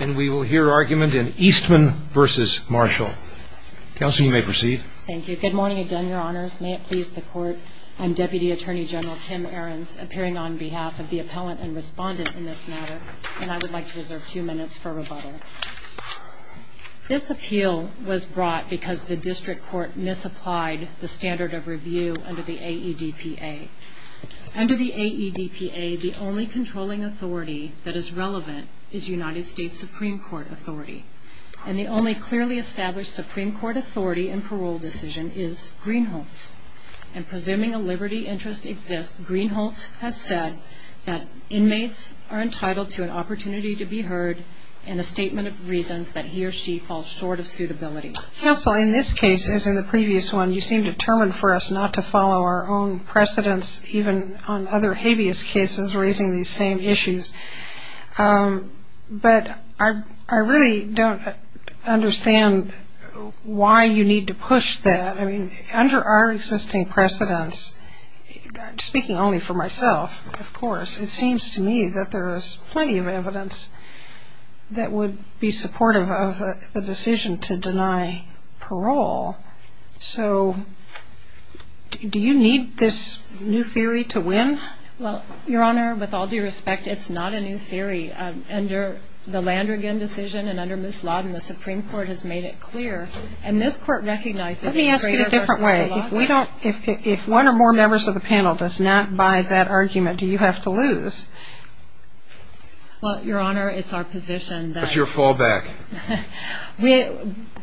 And we will hear argument in Eastman v. Marshall. Counsel, you may proceed. Thank you. Good morning again, Your Honors. May it please the Court, I'm Deputy Attorney General Kim Ahrens, appearing on behalf of the appellant and respondent in this matter, and I would like to reserve two minutes for rebuttal. This appeal was brought because the district court misapplied the standard of review under the AEDPA. Under the AEDPA, the only controlling authority that is relevant is United States Supreme Court authority, and the only clearly established Supreme Court authority in parole decision is Greenhalgh's. And presuming a liberty interest exists, Greenhalgh's has said that inmates are entitled to an opportunity to be heard and a statement of reasons that he or she falls short of suitability. Counsel, in this case, as in the previous one, you seem determined for us not to follow our own precedents, even on other habeas cases, raising these same issues. But I really don't understand why you need to push that. I mean, under our existing precedents, speaking only for myself, of course, it seems to me that there is plenty of evidence that would be supportive of the decision to deny parole. So do you need this new theory to win? Well, Your Honor, with all due respect, it's not a new theory. Under the Landrigan decision and under Ms. Lawton, the Supreme Court has made it clear, and this court recognizes that it's greater versus Greenhalgh's. Let me ask it a different way. If one or more members of the panel does not buy that argument, do you have to lose? Well, Your Honor, it's our position that… It's your fallback.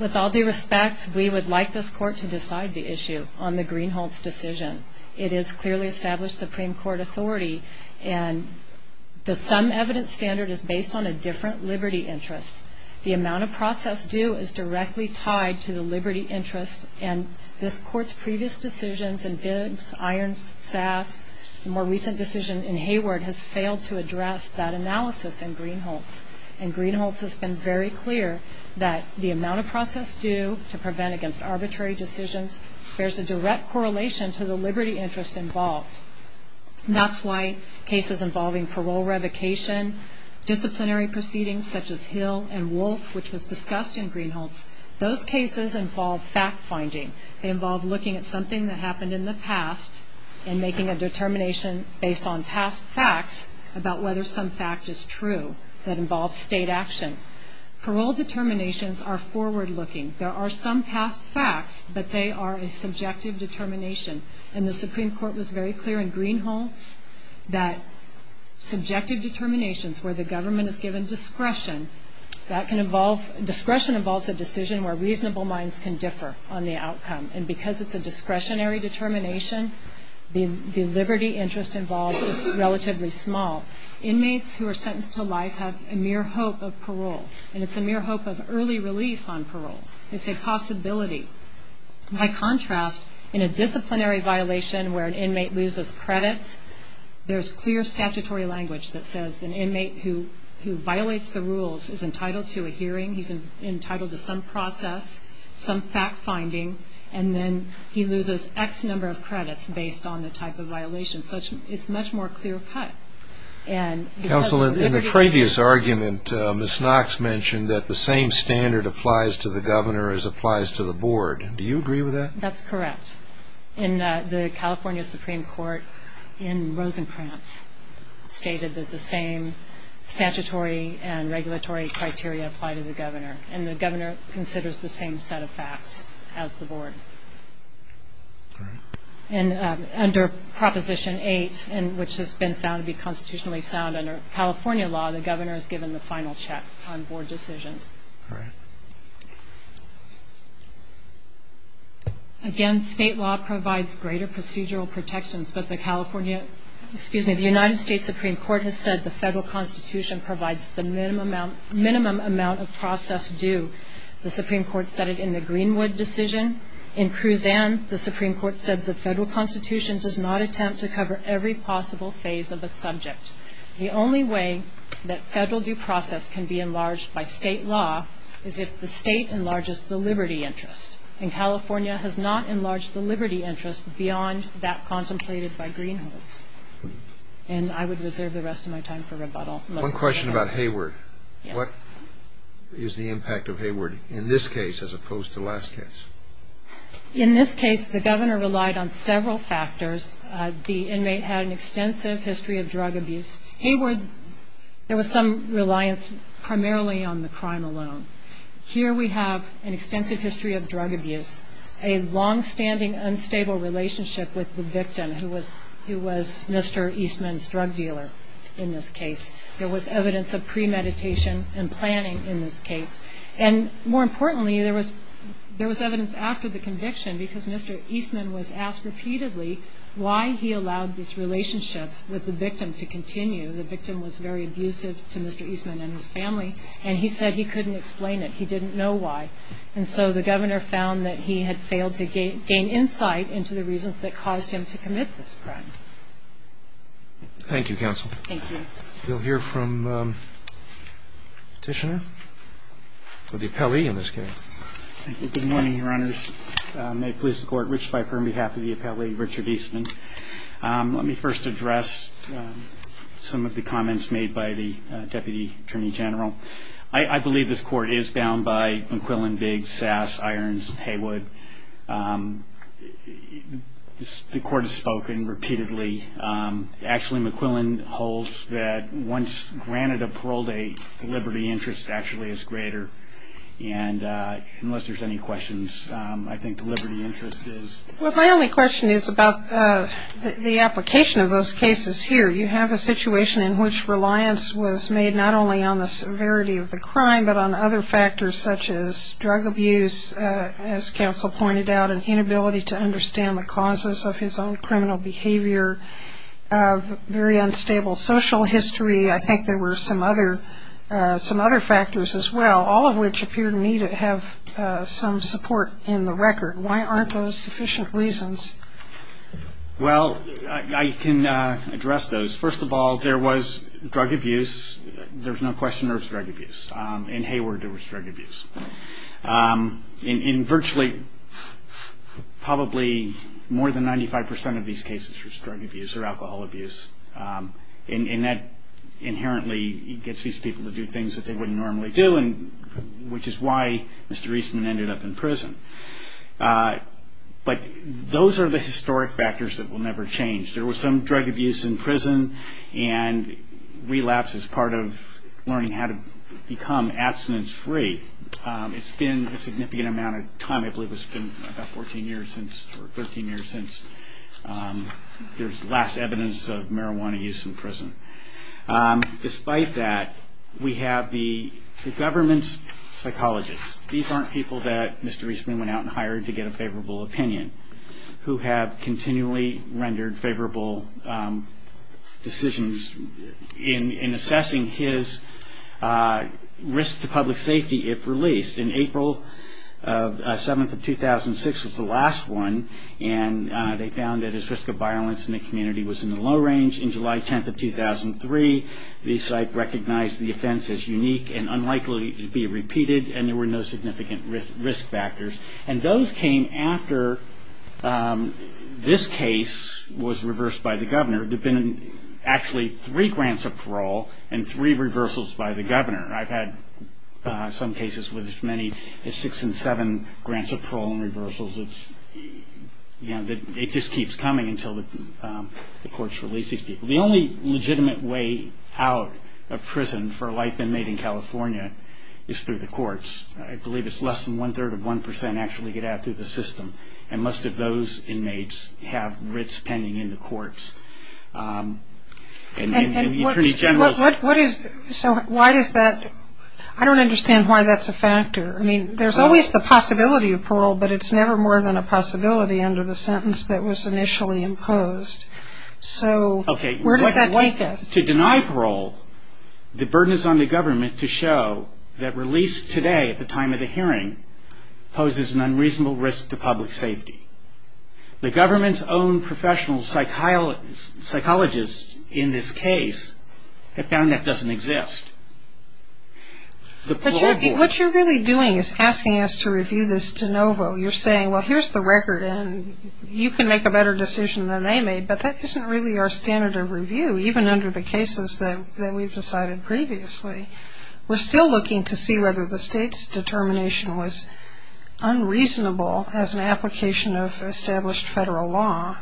With all due respect, we would like this court to decide the issue on the Greenhalgh's decision. It is clearly established Supreme Court authority, and the sum evidence standard is based on a different liberty interest. The amount of process due is directly tied to the liberty interest, and this court's previous decisions in Biggs, Irons, Sass, the more recent decision in Hayward has failed to address that analysis in Greenhalgh's. And Greenhalgh's has been very clear that the amount of process due to prevent against arbitrary decisions bears a direct correlation to the liberty interest involved. That's why cases involving parole revocation, disciplinary proceedings such as Hill and Wolf, which was discussed in Greenhalgh's, those cases involve fact-finding. They involve looking at something that happened in the past and making a determination based on past facts about whether some fact is true that involves state action. Parole determinations are forward-looking. There are some past facts, but they are a subjective determination, and the Supreme Court was very clear in Greenhalgh's that subjective determinations where the government is given discretion, that can involve, discretion involves a decision where reasonable minds can differ on the outcome. And because it's a discretionary determination, the liberty interest involved is relatively small. Inmates who are sentenced to life have a mere hope of parole, and it's a mere hope of early release on parole. It's a possibility. By contrast, in a disciplinary violation where an inmate loses credits, there's clear statutory language that says an inmate who violates the rules is entitled to a hearing, he's entitled to some process, some fact-finding, and then he loses X number of credits based on the type of violation. It's much more clear-cut. Counsel, in the previous argument, Ms. Knox mentioned that the same standard applies to the governor as applies to the board. Do you agree with that? That's correct. The California Supreme Court in Rosencrantz stated that the same statutory and regulatory criteria apply to the governor, and the governor considers the same set of facts as the board. All right. And under Proposition 8, which has been found to be constitutionally sound under California law, the governor is given the final check on board decisions. All right. Again, state law provides greater procedural protections, but the California ‑‑ excuse me, the United States Supreme Court has said the federal constitution provides the minimum amount of process due. The Supreme Court said it in the Greenwood decision. In Cruzan, the Supreme Court said the federal constitution does not attempt to cover every possible phase of a subject. The only way that federal due process can be enlarged by state law is if the state enlarges the liberty interest, and California has not enlarged the liberty interest beyond that contemplated by Greenwoods. And I would reserve the rest of my time for rebuttal. One question about Hayward. Yes. What is the impact of Hayward in this case as opposed to the last case? In this case, the governor relied on several factors. The inmate had an extensive history of drug abuse. Hayward, there was some reliance primarily on the crime alone. Here we have an extensive history of drug abuse, a longstanding unstable relationship with the victim who was Mr. Eastman's drug dealer in this case. There was evidence of premeditation and planning in this case. And more importantly, there was evidence after the conviction because Mr. Eastman was asked repeatedly why he allowed this relationship with the victim to continue. The victim was very abusive to Mr. Eastman and his family, and he said he couldn't explain it. He didn't know why. And so the governor found that he had failed to gain insight into the reasons that caused him to commit this crime. Thank you, counsel. Thank you. We'll hear from Petitioner or the appellee in this case. Good morning, Your Honors. May it please the Court, Rich Pfeiffer on behalf of the appellee, Richard Eastman. Let me first address some of the comments made by the Deputy Attorney General. I believe this Court is bound by McQuillan, Biggs, Sass, Irons, Hayward. The Court has spoken repeatedly. Actually, McQuillan holds that once granted a parole date, the liberty interest actually is greater. And unless there's any questions, I think the liberty interest is. Well, my only question is about the application of those cases here. You have a situation in which reliance was made not only on the severity of the crime but on other factors such as drug abuse, as counsel pointed out, an inability to understand the causes of his own criminal behavior, very unstable social history. I think there were some other factors as well, all of which appear to me to have some support in the record. Why aren't those sufficient reasons? Well, I can address those. First of all, there was drug abuse. There's no question there was drug abuse. In Hayward, there was drug abuse. In virtually probably more than 95% of these cases, there was drug abuse or alcohol abuse. And that inherently gets these people to do things that they wouldn't normally do, which is why Mr. Eastman ended up in prison. But those are the historic factors that will never change. There was some drug abuse in prison and relapse as part of learning how to become abstinence-free. It's been a significant amount of time. I believe it's been about 14 years since or 13 years since there's last evidence of marijuana use in prison. Despite that, we have the government's psychologists. These aren't people that Mr. Eastman went out and hired to get a favorable opinion, who have continually rendered favorable decisions in assessing his risk to public safety if released. And April 7th of 2006 was the last one, and they found that his risk of violence in the community was in the low range. In July 10th of 2003, the site recognized the offense as unique and unlikely to be repeated, and there were no significant risk factors. And those came after this case was reversed by the governor. There have been actually three grants of parole and three reversals by the governor. I've had some cases with as many as six and seven grants of parole and reversals. It just keeps coming until the courts release these people. The only legitimate way out of prison for a life inmate in California is through the courts. I believe it's less than one-third of one percent actually get out through the system, and most of those inmates have writs pending in the courts. And the attorney general's- So why does that-I don't understand why that's a factor. I mean, there's always the possibility of parole, but it's never more than a possibility under the sentence that was initially imposed. So where does that take us? To deny parole, the burden is on the government to show that release today at the time of the hearing poses an unreasonable risk to public safety. The government's own professional psychologists in this case have found that doesn't exist. But what you're really doing is asking us to review this de novo. You're saying, well, here's the record, and you can make a better decision than they made, but that isn't really our standard of review, even under the cases that we've decided previously. We're still looking to see whether the state's determination was unreasonable as an application of established federal law.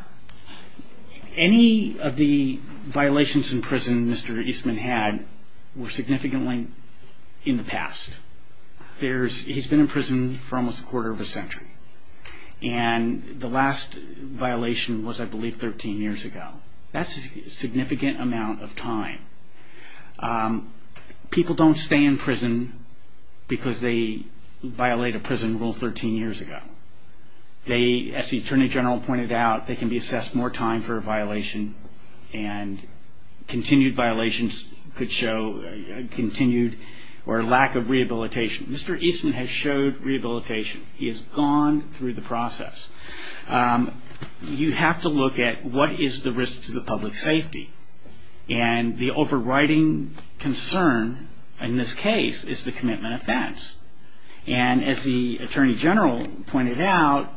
Any of the violations in prison Mr. Eastman had were significantly in the past. He's been in prison for almost a quarter of a century. And the last violation was, I believe, 13 years ago. That's a significant amount of time. People don't stay in prison because they violate a prison rule 13 years ago. As the Attorney General pointed out, they can be assessed more time for a violation, and continued violations could show continued or lack of rehabilitation. Mr. Eastman has showed rehabilitation. He has gone through the process. You have to look at what is the risk to the public safety. And the overriding concern in this case is the commitment offense. And as the Attorney General pointed out,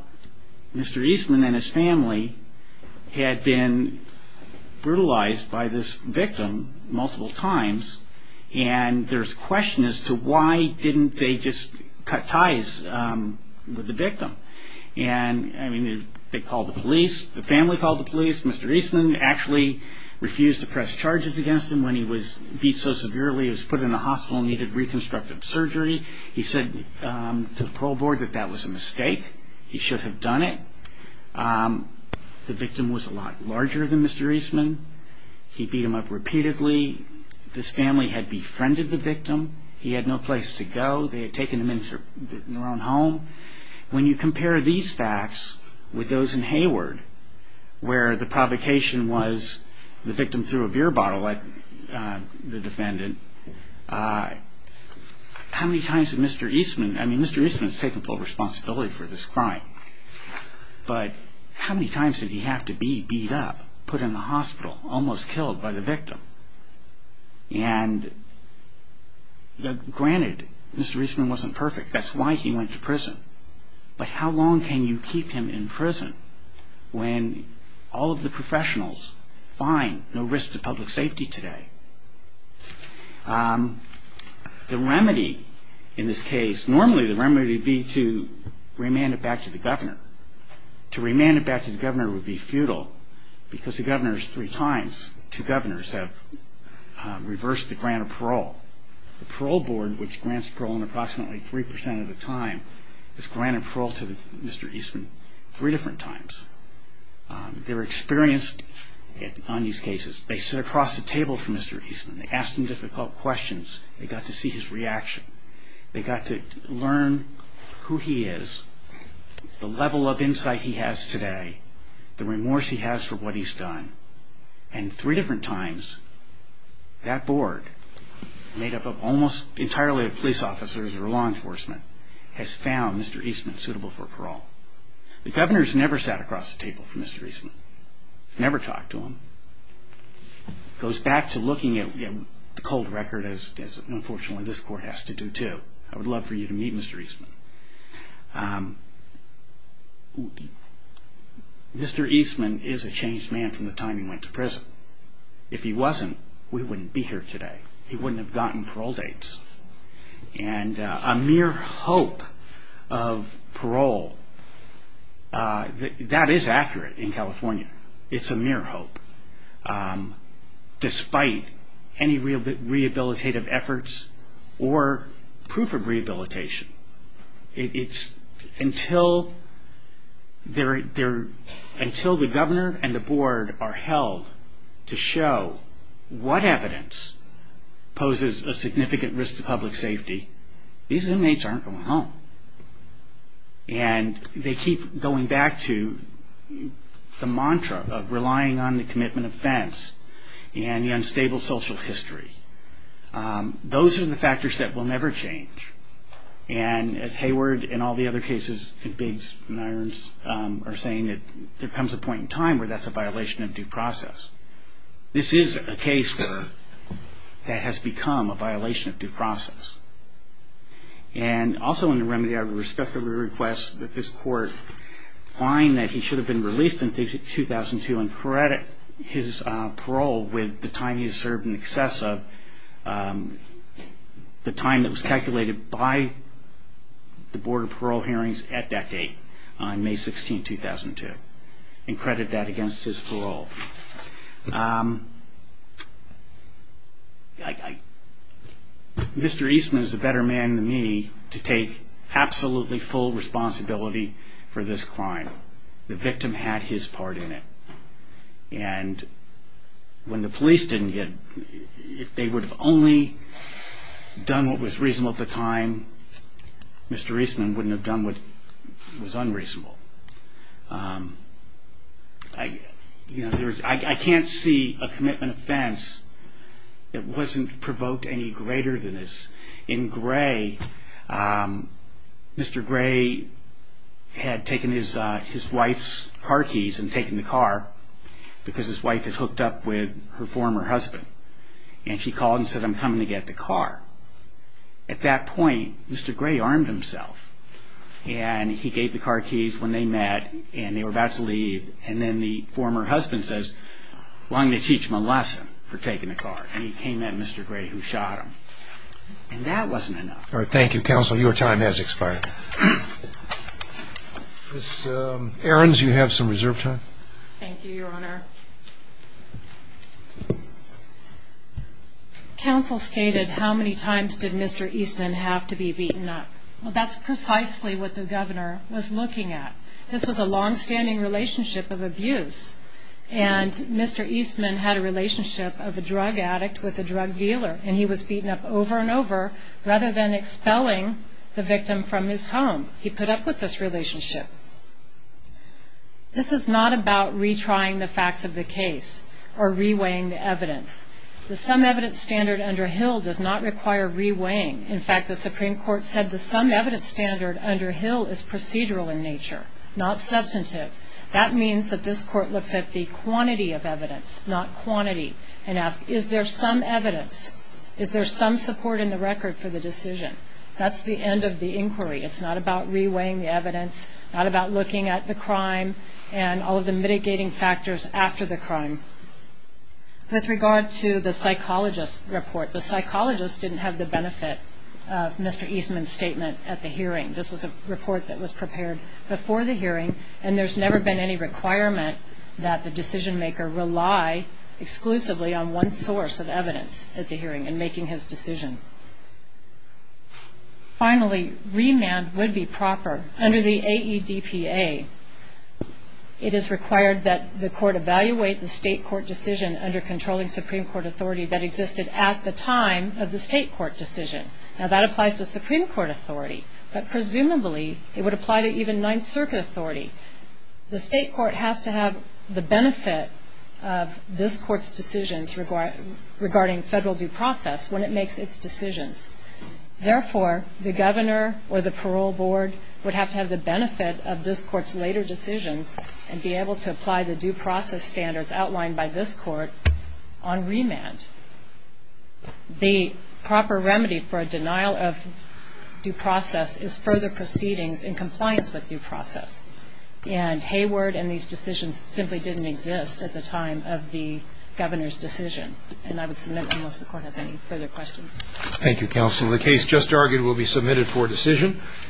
Mr. Eastman and his family had been brutalized by this victim multiple times, and there's a question as to why didn't they just cut ties with the victim. And, I mean, they called the police. The family called the police. Mr. Eastman actually refused to press charges against him when he was beat so severely he was put in the hospital and needed reconstructive surgery. He said to the parole board that that was a mistake. He should have done it. The victim was a lot larger than Mr. Eastman. He beat him up repeatedly. This family had befriended the victim. He had no place to go. They had taken him into their own home. When you compare these facts with those in Hayward where the provocation was the victim threw a beer bottle at the defendant, how many times did Mr. Eastman, I mean, Mr. Eastman has taken full responsibility for this crime, but how many times did he have to be beat up, put in the hospital, almost killed by the victim? And, granted, Mr. Eastman wasn't perfect. That's why he went to prison. But how long can you keep him in prison when all of the professionals find no risk to public safety today? The remedy in this case, normally the remedy would be to remand it back to the governor. To remand it back to the governor would be futile because the governor is three times, two governors have reversed the grant of parole. The parole board, which grants parole in approximately 3% of the time, has granted parole to Mr. Eastman three different times. They were experienced on these cases. They sat across the table from Mr. Eastman. They asked him difficult questions. They got to see his reaction. They got to learn who he is, the level of insight he has today, the remorse he has for what he's done. And three different times that board, made up of almost entirely of police officers or law enforcement, has found Mr. Eastman suitable for parole. The governor's never sat across the table from Mr. Eastman. Never talked to him. Goes back to looking at the cold record, as unfortunately this court has to do too. I would love for you to meet Mr. Eastman. Mr. Eastman is a changed man from the time he went to prison. If he wasn't, we wouldn't be here today. He wouldn't have gotten parole dates. And a mere hope of parole, that is accurate in California. It's a mere hope, despite any rehabilitative efforts or proof of rehabilitation. It's until the governor and the board are held to show what evidence poses a significant risk to public safety, these inmates aren't going home. And they keep going back to the mantra of relying on the commitment offense and the unstable social history. Those are the factors that will never change. And as Hayward and all the other cases in Biggs and Irons are saying, there comes a point in time where that's a violation of due process. This is a case that has become a violation of due process. And also in the remedy, I would respectfully request that this court find that he should have been released in 2002 and credit his parole with the time he served in excess of the time that was calculated by the Board of Parole Hearings at that date, on May 16, 2002, and credit that against his parole. Mr. Eastman is a better man than me to take absolutely full responsibility for this crime. The victim had his part in it. And when the police didn't get, if they would have only done what was reasonable at the time, Mr. Eastman wouldn't have done what was unreasonable. I can't see a commitment offense that wasn't provoked any greater than this. In Gray, Mr. Gray had taken his wife's car keys and taken the car because his wife had hooked up with her former husband. And she called and said, I'm coming to get the car. At that point, Mr. Gray armed himself. And he gave the car keys when they met and they were about to leave. And then the former husband says, I'm going to teach him a lesson for taking the car. And he came at Mr. Gray, who shot him. And that wasn't enough. All right, thank you, Counsel. Your time has expired. Ms. Ahrens, you have some reserve time. Thank you, Your Honor. Counsel stated how many times did Mr. Eastman have to be beaten up. Well, that's precisely what the governor was looking at. This was a longstanding relationship of abuse. And Mr. Eastman had a relationship of a drug addict with a drug dealer. And he was beaten up over and over rather than expelling the victim from his home. He put up with this relationship. This is not about retrying the facts of the case or reweighing the evidence. The sum evidence standard under Hill does not require reweighing. In fact, the Supreme Court said the sum evidence standard under Hill is procedural in nature, not substantive. That means that this Court looks at the quantity of evidence, not quantity, and asks, is there some evidence? Is there some support in the record for the decision? That's the end of the inquiry. It's not about reweighing the evidence, not about looking at the crime and all of the mitigating factors after the crime. With regard to the psychologist report, the psychologist didn't have the benefit of Mr. Eastman's statement at the hearing. This was a report that was prepared before the hearing, and there's never been any requirement that the decision-maker rely exclusively on one source of evidence at the hearing in making his decision. Finally, remand would be proper. Under the AEDPA, it is required that the Court evaluate the state court decision under controlling Supreme Court authority that existed at the time of the state court decision. Now, that applies to Supreme Court authority, but presumably it would apply to even Ninth Circuit authority. The state court has to have the benefit of this Court's decisions regarding federal due process when it makes its decisions. Therefore, the governor or the parole board would have to have the benefit of this Court's later decisions and be able to apply the due process standards outlined by this Court on remand. The proper remedy for a denial of due process is further proceedings in compliance with due process, and Hayward and these decisions simply didn't exist at the time of the governor's decision. And I would submit unless the Court has any further questions. Thank you, Counsel. The case just argued will be submitted for decision.